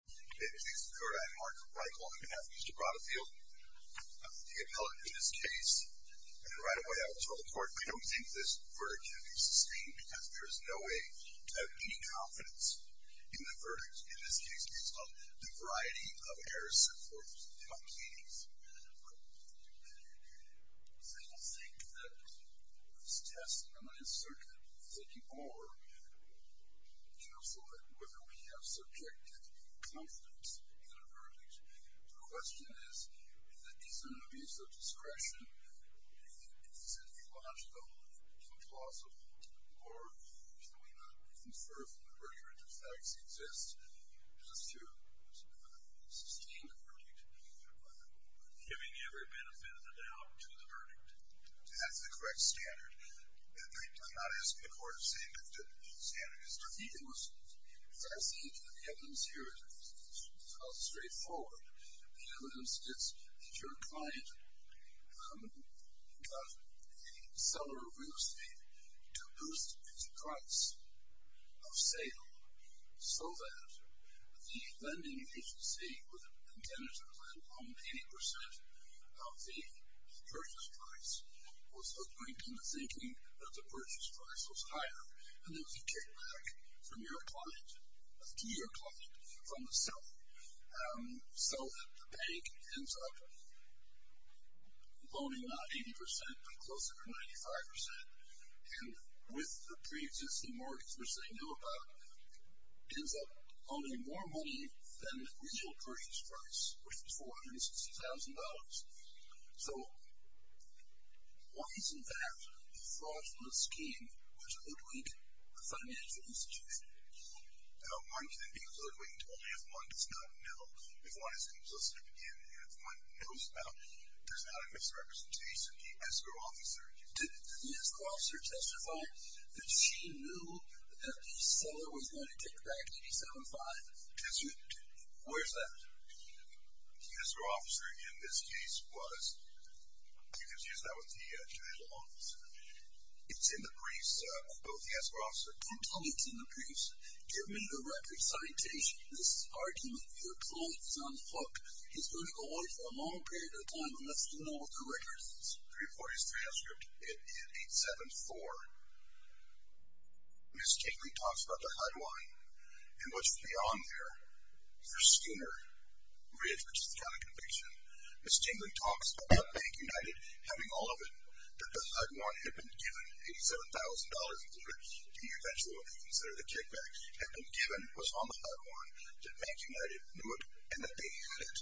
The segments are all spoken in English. Mr. Rotteveel, the appellate in this case, and right away I will turn the court. I don't think this verdict can be sustained because there is no way to have any confidence in the verdict in this case based on the variety of errors set forth by the case. So I don't think that this test, and I am certainly thinking more careful at whether we have subjected confidence in a verdict. The question is, is an abuse of discretion psychologically impossible, or can we not give every benefit of the doubt to the verdict? That's the correct standard. I'm not asking the court to say what the standard is. I think the evidence here is straightforward. The evidence is that your client got a seller of real estate to boost its price of sale so that the lending agency with an intent to lend home 80% of the purchase price was looking and thinking that the purchase price was higher. And then you get back to your client from the seller so that the bank ends up loaning not 80% but closer to 95%. And with the pre-existing mortgage, which they knew about, ends up loaning more money than the original purchase price, which was $460,000. So why isn't that a fraudulent scheme, which would link a financial institution? One can be hoodwinked only if one does not know. If one is consistent in, and if one knows about, there's not a misrepresentation. Did the escrow officer testify that she knew that the seller was going to take back 87.5? Where's that? The escrow officer, in this case, was... It's in the briefs of both the escrow officer. Don't tell me it's in the briefs. Give me the record citation. This argument with your client's on the hook is going to go on for a long period of time Let's look at the records, 340's transcript. It's 8-7-4. Ms. Tingley talks about the HUD one and what's beyond there for Skinner Ridge, which is the county conviction. Ms. Tingley talks about Bank United having all of it, that the HUD one had been given, $87,000 included, to be eventually considered a kickback, had been given, was on the HUD one, that Bank United knew it, and that they had it.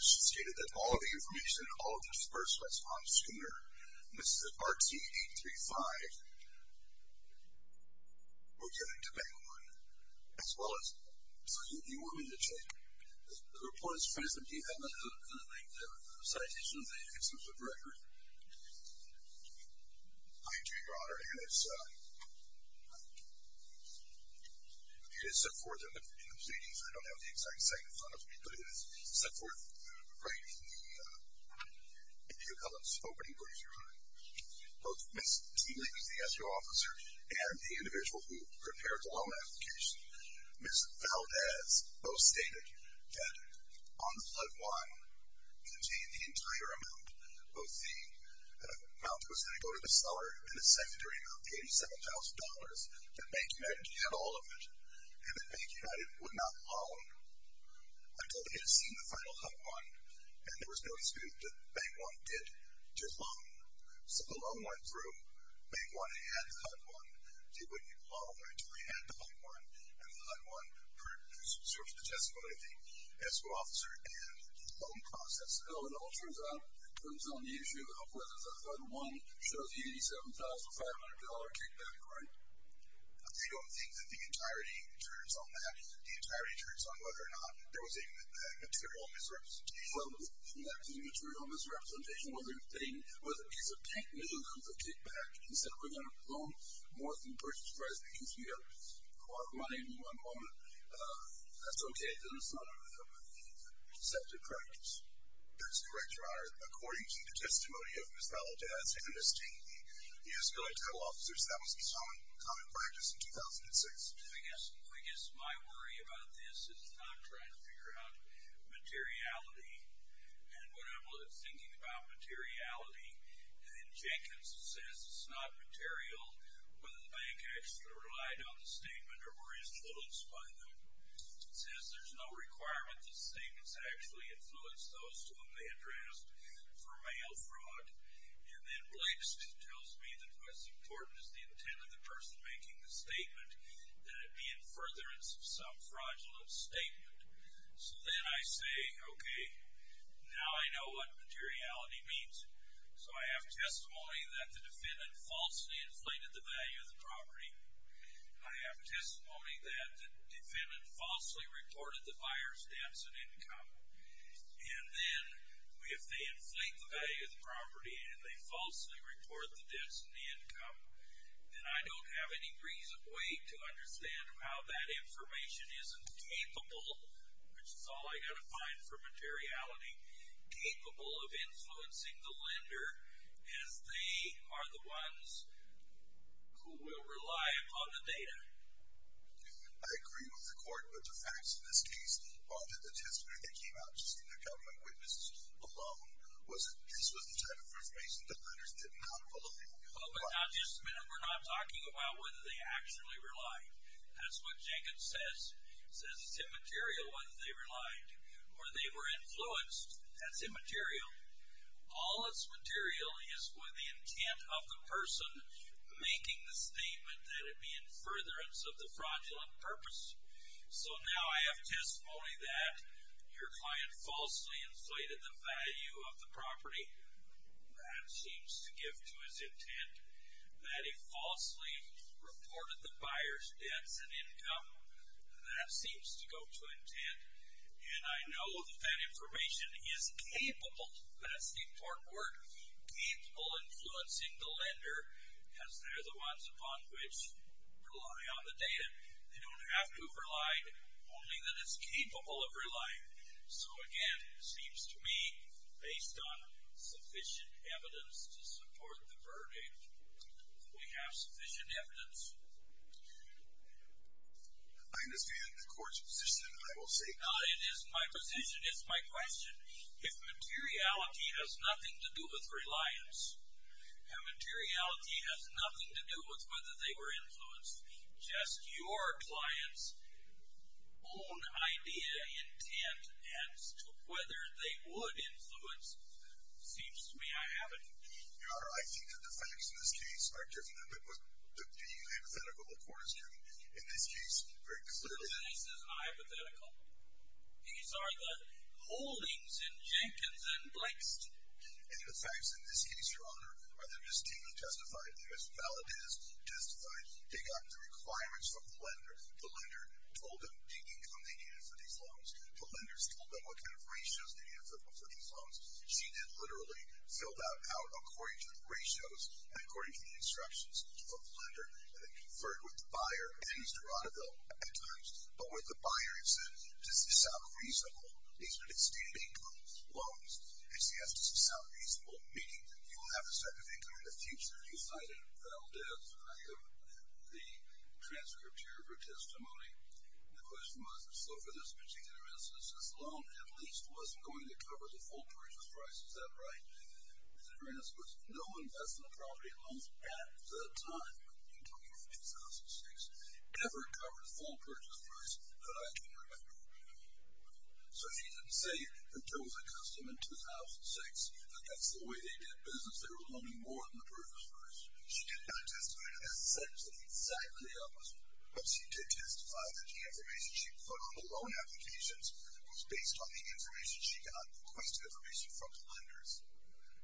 She's stated that all of the information, all of this first response to Skinner, and this is at RT-835, we're getting to Bank One, as well as... You want me to check? The report is present. Do you have the citation of the extensive record? I'm Jerry Broderick, and it's... It is set forth in the proceedings. I don't have the exact site in front of me, but it is set forth right in the... if you'll help us open it, what is your name? Both Ms. Tingley, who's the SBO officer, and the individual who prepared the loan application, Ms. Valdez, both stated that on the HUD one contained the entire amount, both the amount that was going to go to the seller, and the secondary of the $87,000, that Bank United had all of it, and that Bank United would not loan until they had seen the final HUD one, and there was no excuse that Bank One did just loan. So the loan went through, Bank One had the HUD one. They wouldn't loan until they had the HUD one, and the HUD one serves the testimony of the SBO officer and the loan process. So it all turns on the issue of whether the HUD one shows the $87,500 kickback, right? They don't think that the entirety turns on that. The entirety turns on whether or not there was a material misrepresentation. Well, that material misrepresentation was a piece of paper that was a kickback. They said we're going to loan more than the purchase price because we have a lot of money in one moment. That's okay, then it's not a receptive practice. That's correct, Your Honor. According to the testimony of Ms. Valdez and Ms. Tate, the SBO title officers, that was the common practice in 2006. I guess my worry about this is not trying to figure out materiality and what I'm thinking about materiality, and then Jenkins says it's not material, whether the bank actually relied on the statement or were influenced by them. It says there's no requirement that the statements actually influence those to whom they addressed for mail fraud. And then Blanksteen tells me that what's important is the intent of the person making the statement, that it be in furtherance of some fraudulent statement. So then I say, okay, now I know what materiality means. So I have testimony that the defendant falsely inflated the value of the property. I have testimony that the defendant falsely reported the buyer's debts and income. And then if they inflate the value of the property and they falsely report the debts and the income, then I don't have any reason or way to understand how that information isn't capable, which is all I've got to find for materiality, capable of influencing the lender as they are the ones who will rely upon the data. I agree with the court, but the facts in this case are that the testimony that came out just in the account of my witnesses alone was a piece of the type of information that lenders didn't know how to follow. But we're not talking about whether they actually relied. That's what Jenkins says. It says it's immaterial whether they relied or they were influenced. That's immaterial. All that's material is with the intent of the person making the statement that it be in furtherance of the fraudulent purpose. So now I have testimony that your client falsely inflated the value of the property. That seems to give to his intent that he falsely reported the buyer's debts and income. That seems to go to intent, and I know that that information is capable, that's the important word, capable of influencing the lender as they're the ones upon which rely on the data. They don't have to have relied, only that it's capable of relying. So again, it seems to me, based on sufficient evidence to support the verdict, we have sufficient evidence. I understand the court's position, and I will say it. It is my position. It's my question. If materiality has nothing to do with reliance, and materiality has nothing to do with whether they were influenced, just your client's own idea, intent, as to whether they would influence seems to me I have it. Your Honor, I think that the facts in this case are different than what the hypothetical court is giving. In this case, very clearly. This case is not hypothetical. These are the holdings in Jenkins and Blankstein. And the facts in this case, Your Honor, are there distinctly testified. They are as valid as testified. They got the requirements from the lender. The lender told them the income they needed for these loans. The lenders told them what kind of ratios they needed for these loans. She then literally filled that out according to the ratios and according to the instructions of the lender, and then conferred with the buyer, Dennis Doradoville, at times. But with the buyer, he said, does this sound reasonable? He said, it's state-of-the-art loans. He said, yes, does this sound reasonable? Meaning that you will have a certain income in the future. You cited Valdez, the transcripture of your testimony. The question was, so for this particular instance, this loan at least wasn't going to cover the full purchase price. Is that right? The difference was no investment property loans at the time. I'm talking about 2006. Never covered full purchase price, but I can remember. So she didn't say that there was a custom in 2006 that that's the way they did business. They were loaning more than the purchase price. She did not testify to that sentence. Exactly the opposite. But she did testify that the information she put on the loan applications was based on the information she got, requested information from the lenders.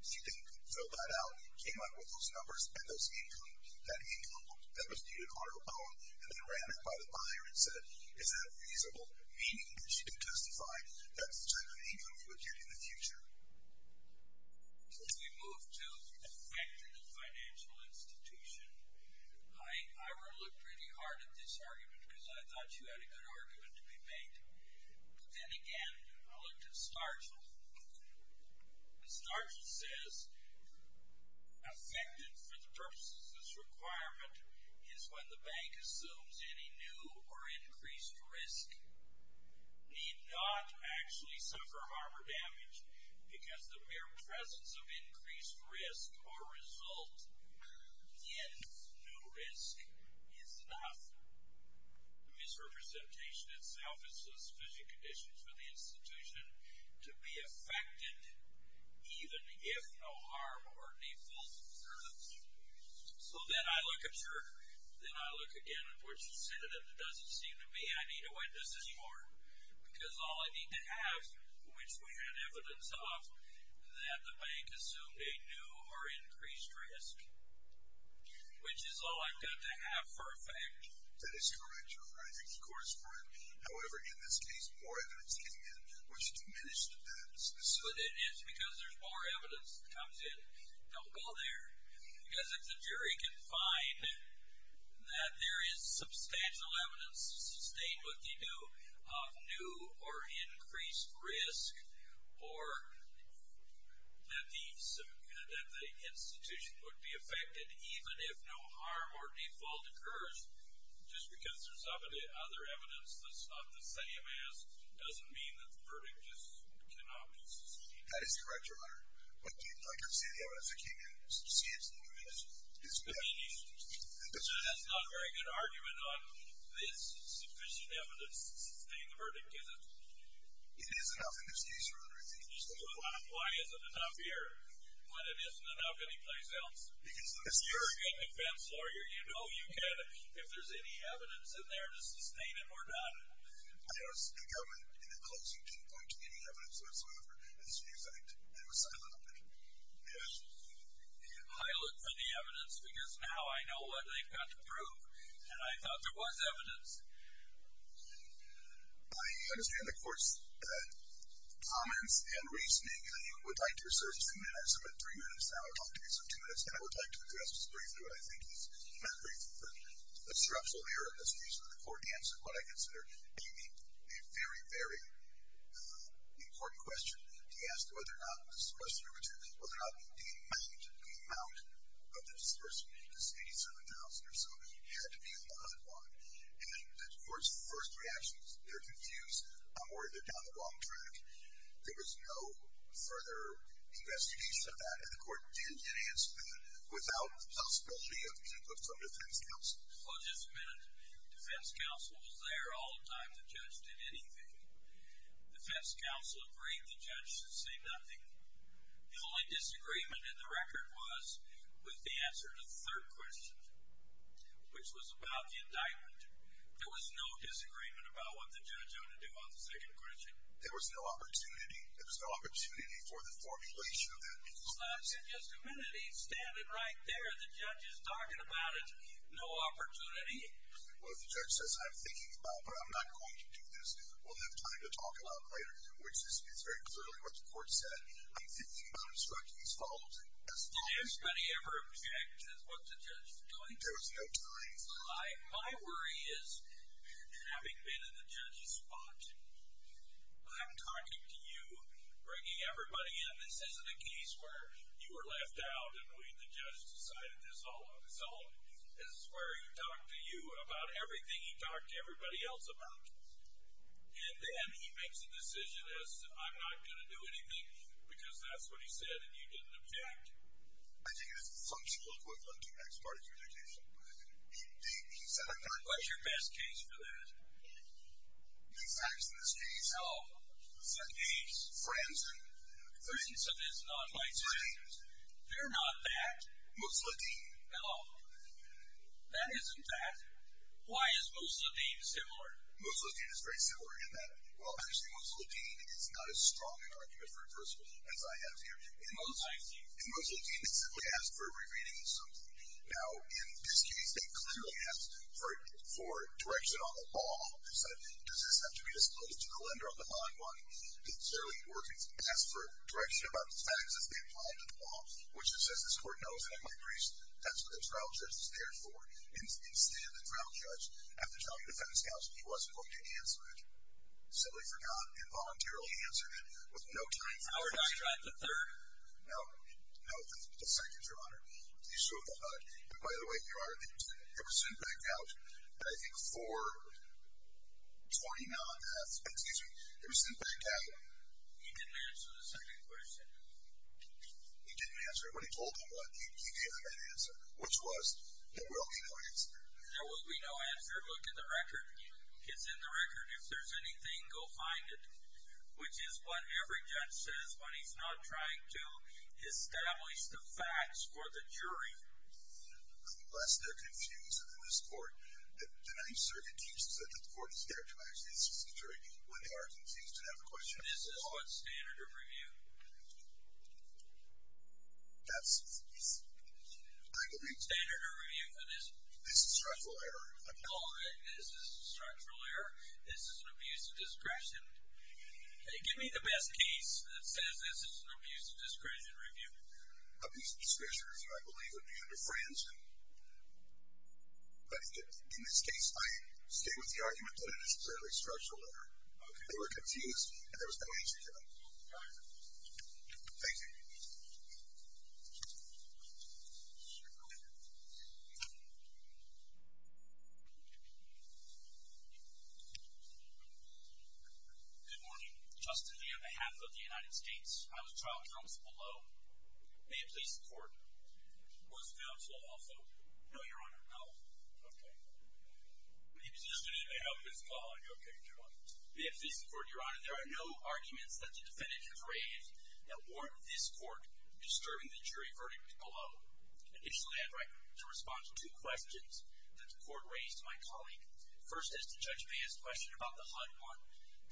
She then filled that out and came up with those numbers and that income that was needed on the loan. And then ran it by the buyer and said, is that reasonable? Meaning that she didn't testify. That's the type of income you would get in the future. We move to affected financial institution. I looked pretty hard at this argument because I thought you had a good argument to be made. But then again, I looked at Starchill. Starchill says, affected for the purposes of this requirement is when the bank assumes any new or increased risk. Need not actually suffer harm or damage because the mere presence of increased risk or result against new risk is enough. The misrepresentation itself is sufficient conditions for the institution to be affected even if no harm or default occurs. So then I look at Schroeder. Then I look again at what she said and it doesn't seem to be. I need to witness this more because all I need to have, which we had evidence of, that the bank assumed a new or increased risk, which is all I've got to have for a fact. That is correct, Your Honor. I think the court is correct. However, in this case, more evidence came in, which diminished the evidence. But it is because there's more evidence that comes in. Don't go there. Because if the jury can find that there is substantial evidence to sustain what they do of new or increased risk or that the institution would be affected even if no harm or default occurs just because there's other evidence that's not the same as doesn't mean that the verdict just cannot be sustained. That is correct, Your Honor. But I can see the evidence that came in. I can see it's diminished. It's diminished. So that's not a very good argument on this sufficient evidence to sustain the verdict, is it? It is enough in this case, Your Honor. Why is it enough here when it isn't enough anyplace else? You're a good defense lawyer. You know you can if there's any evidence in there to sustain it or not. I asked the government in the closing to point to any evidence whatsoever. As a matter of fact, they were silent on it. I look for the evidence because now I know what they've got to prove, and I thought there was evidence. I understand the court's comments and reasoning. I would like to reserve two minutes. I'm at three minutes now. I would like to reserve two minutes, and I would like to address briefly what I think is a structural error in this case. The court answered what I consider to be a very, very important question to ask whether or not this questioner determined whether or not the amount of this person, this 87,000 or so, had to be in the HUD one. And the court's first reaction is they're confused. I'm worried they're down the wrong track. There was no further investigation of that, and the court didn't answer that without the possibility of some defense counsel. Well, just a minute. Defense counsel was there all the time. The judge did anything. Defense counsel agreed the judge should say nothing. The only disagreement in the record was with the answer to the third question, which was about the indictment. There was no disagreement about what the judge ought to do on the second question. There was no opportunity. There was no opportunity for the formulation of that. Well, I said, just a minute. He's standing right there. The judge is talking about it. No opportunity? Well, the judge says, I'm thinking about it, but I'm not going to do this. We'll have time to talk about it later, which is very clearly what the court said. I'm thinking about instructing these fellows as follows. Did anybody ever object as what the judge is doing? There was no time. My worry is, having been in the judge's spot, I'm talking to you, bringing everybody in. This isn't a case where you were left out and we, the judge, decided this all on his own. This is where he talked to you about everything he talked to everybody else about. And then he makes a decision as, I'm not going to do anything, because that's what he said and you didn't object. I think this is something to look with on the next part of your dictation. What's your best case for that? The facts in this case. Oh. What's that case? Friends. Friends. So this is not my case. Friends. They're not that. Musladeen. No. That isn't that. Why is Musladeen similar? Musladeen is very similar in that, well, actually, Musladeen is not as strong an argument for reversible as I have here. In Musladeen, they simply asked for a remaining assumption. Now, in this case, they clearly asked for direction on the law. They said, does this have to be disclosed to the lender on the line? One, it clearly works. It asks for direction about the facts as they apply to the law, which it says this court knows, and I might increase, that's what the trial judge is there for. Instead, the trial judge, after telling the defense counsel he wasn't going to answer it, simply forgot and voluntarily answered it with no time for discussion. How about the third? No. No, the second, Your Honor. You showed the HUD. By the way, Your Honor, it was sent back out. I think for 29 and a half, excuse me, it was sent back out. He didn't answer the second question. He didn't answer it. When he told them what, he gave them an answer, which was there will be no answer. There will be no answer. Look at the record. It's in the record. If there's anything, go find it, which is what every judge says when he's not trying to establish the facts for the jury. Unless they're confused in this court, then I'm certain the court is there to answer the jury. When they are confused and have a question. This is what standard of review? That's, I believe. Standard of review. This is structural error. I'm calling it. This is structural error. This is an abuse of discretion. Give me the best case that says this is an abuse of discretion review. Abuse of discretion, I believe, would be under Franzen. But in this case, I stick with the argument that it is clearly structural error. They were confused and there was no answer to them. All right. Thank you. Good morning. Justin Lee on behalf of the United States. I was trial counsel below. May it please the court. Was the judge lawful? No, Your Honor. No? Okay. He was just going to help his colleague. Okay. Go on. May it please the court, Your Honor. There are no arguments that the defendant has raised Initially, I'd like to respond to two questions that the court raised to my colleague. First is to Judge Bea's question about the HUD-1.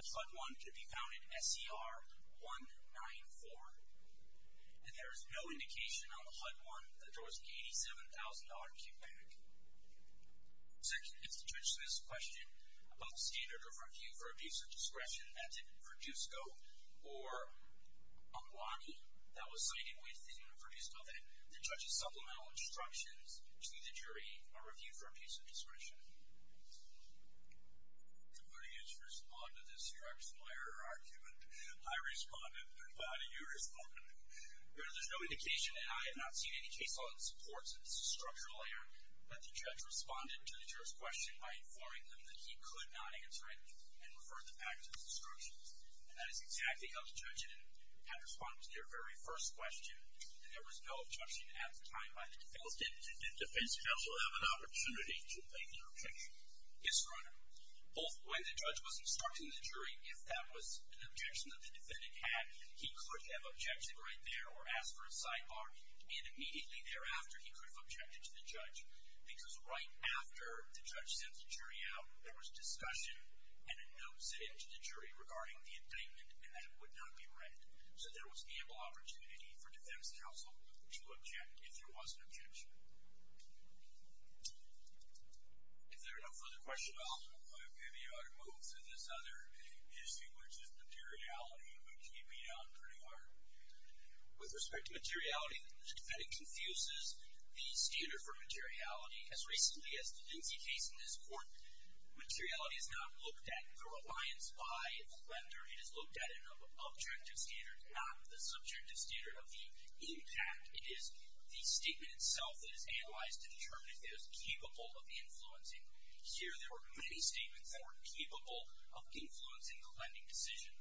The HUD-1 could be found in SCR-194. And there is no indication on the HUD-1 that there was an $87,000 cutback. Second is to Judge Smith's question about the standard of review for abuse of discretion. That's in Produsco or Umlani. That was cited within Produsco. Then the judge's supplemental instructions to the jury are review for abuse of discretion. I'm going to respond to this structural error argument. I responded, but how do you respond? There is no indication, and I have not seen any case law that supports this structural error, that the judge responded to the jury's question by informing them that he could not answer it and refer the fact to the instructions. And that is exactly how the judge had responded to their very first question. There was no objection at the time by the defendant. Well, did the defense counsel have an opportunity to make an objection? Yes, Your Honor. Both when the judge was instructing the jury if that was an objection that the defendant had, he could have objected right there or asked for a sidebar, and immediately thereafter he could have objected to the judge. Because right after the judge sent the jury out, there was discussion and a note sent to the jury regarding the indictment and that it would not be read. So there was ample opportunity for defense counsel to object if there was an objection. If there are no further questions, I'll give you our move to this other issue, which is materiality, which you beat out pretty hard. With respect to materiality, the defendant confuses the standard for materiality. As recently as the Lindsay case in this court, materiality is not looked at through reliance by a lender. It is looked at in an objective standard, not the subjective standard of the impact. It is the statement itself that is analyzed to determine if it is capable of influencing. Here there were many statements that were capable of influencing the lending decision.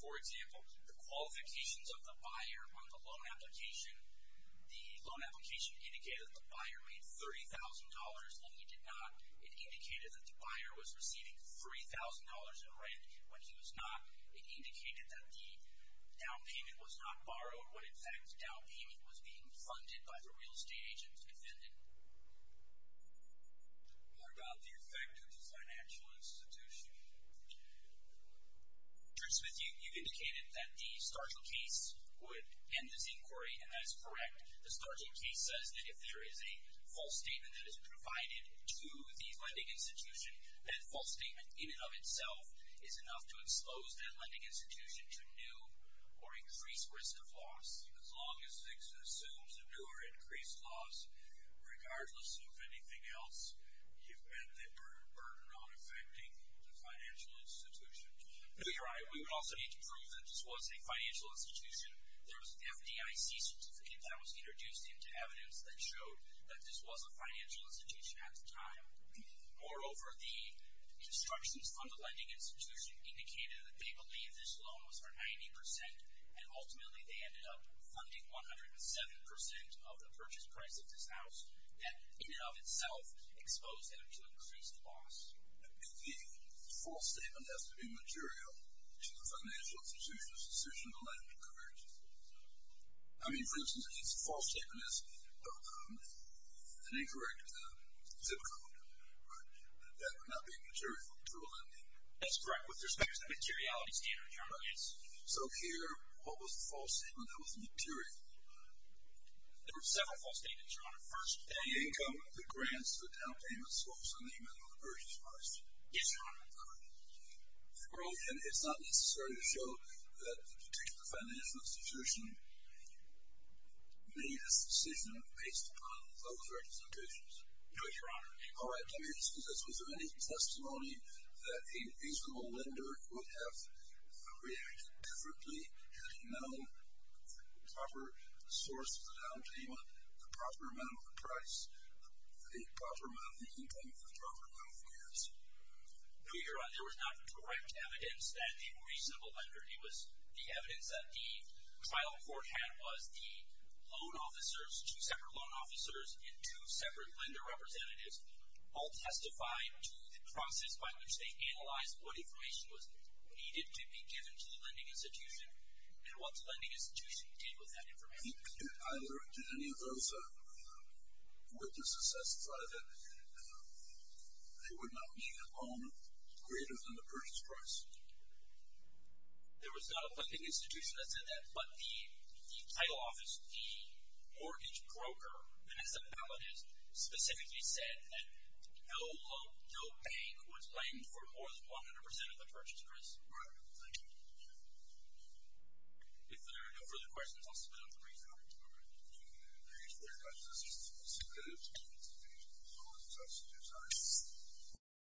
For example, the qualifications of the buyer on the loan application. The loan application indicated that the buyer made $30,000, and he did not. It indicated that the buyer was receiving $3,000 in rent when he was not. It indicated that the down payment was not borrowed, when in fact the down payment was being funded by the real estate agent's defendant. What about the effect of the financial institution? Judge Smith, you indicated that the Stargill case would end this inquiry, and that is correct. The Stargill case says that if there is a false statement that is provided to the lending institution, that false statement in and of itself is enough to expose that lending institution to new or increased risk of loss. As long as it assumes a new or increased loss, regardless of anything else, you've met the burden on affecting the financial institution. You're right. We would also need to prove that this was a financial institution. There was an FDIC certificate that was introduced into evidence that showed that this was a financial institution at the time. Moreover, the instructions on the lending institution indicated that they believed this loan was for 90%, and ultimately they ended up funding 107% of the purchase price of this house. That in and of itself exposed them to increased loss. The false statement has to be material to the financial institution's decision to lend to the commercial institution. I mean, for instance, if the false statement is an incorrect zip code, that would not be material to a lending institution. That's correct with respect to the materiality standard, Your Honor. So here, what was the false statement that was material? There were several false statements, Your Honor. First, the income, the grants, the down payment source, and the amount of the purchase price. Yes, Your Honor. For all of them, it's not necessary to show that the particular financial institution made its decision based upon those representations. No, Your Honor. All right. Let me ask you this. Was there any testimony that a reasonable lender would have reacted differently had he known the proper source of the down payment, the proper amount of the price, the proper amount of the income, the proper amount of the grants? No, Your Honor. There was not correct evidence that a reasonable lender. It was the evidence that the trial court had was the loan officers, two separate loan officers, and two separate lender representatives all testified to the process by which they analyzed what information was needed to be given to the lending institution and what the lending institution did with that information. Did any of those witnesses testify that they would not need a loan greater than the purchase price? There was not a lending institution that said that, but the title office, the mortgage broker, specifically said that no bank was paying for more than 100 percent of the purchase price. All right. Thank you. If there are no further questions, I'll suspend the briefing. All right. Thank you, Your Honor. This is good. Thank you. All right. Thank you, Your Honor.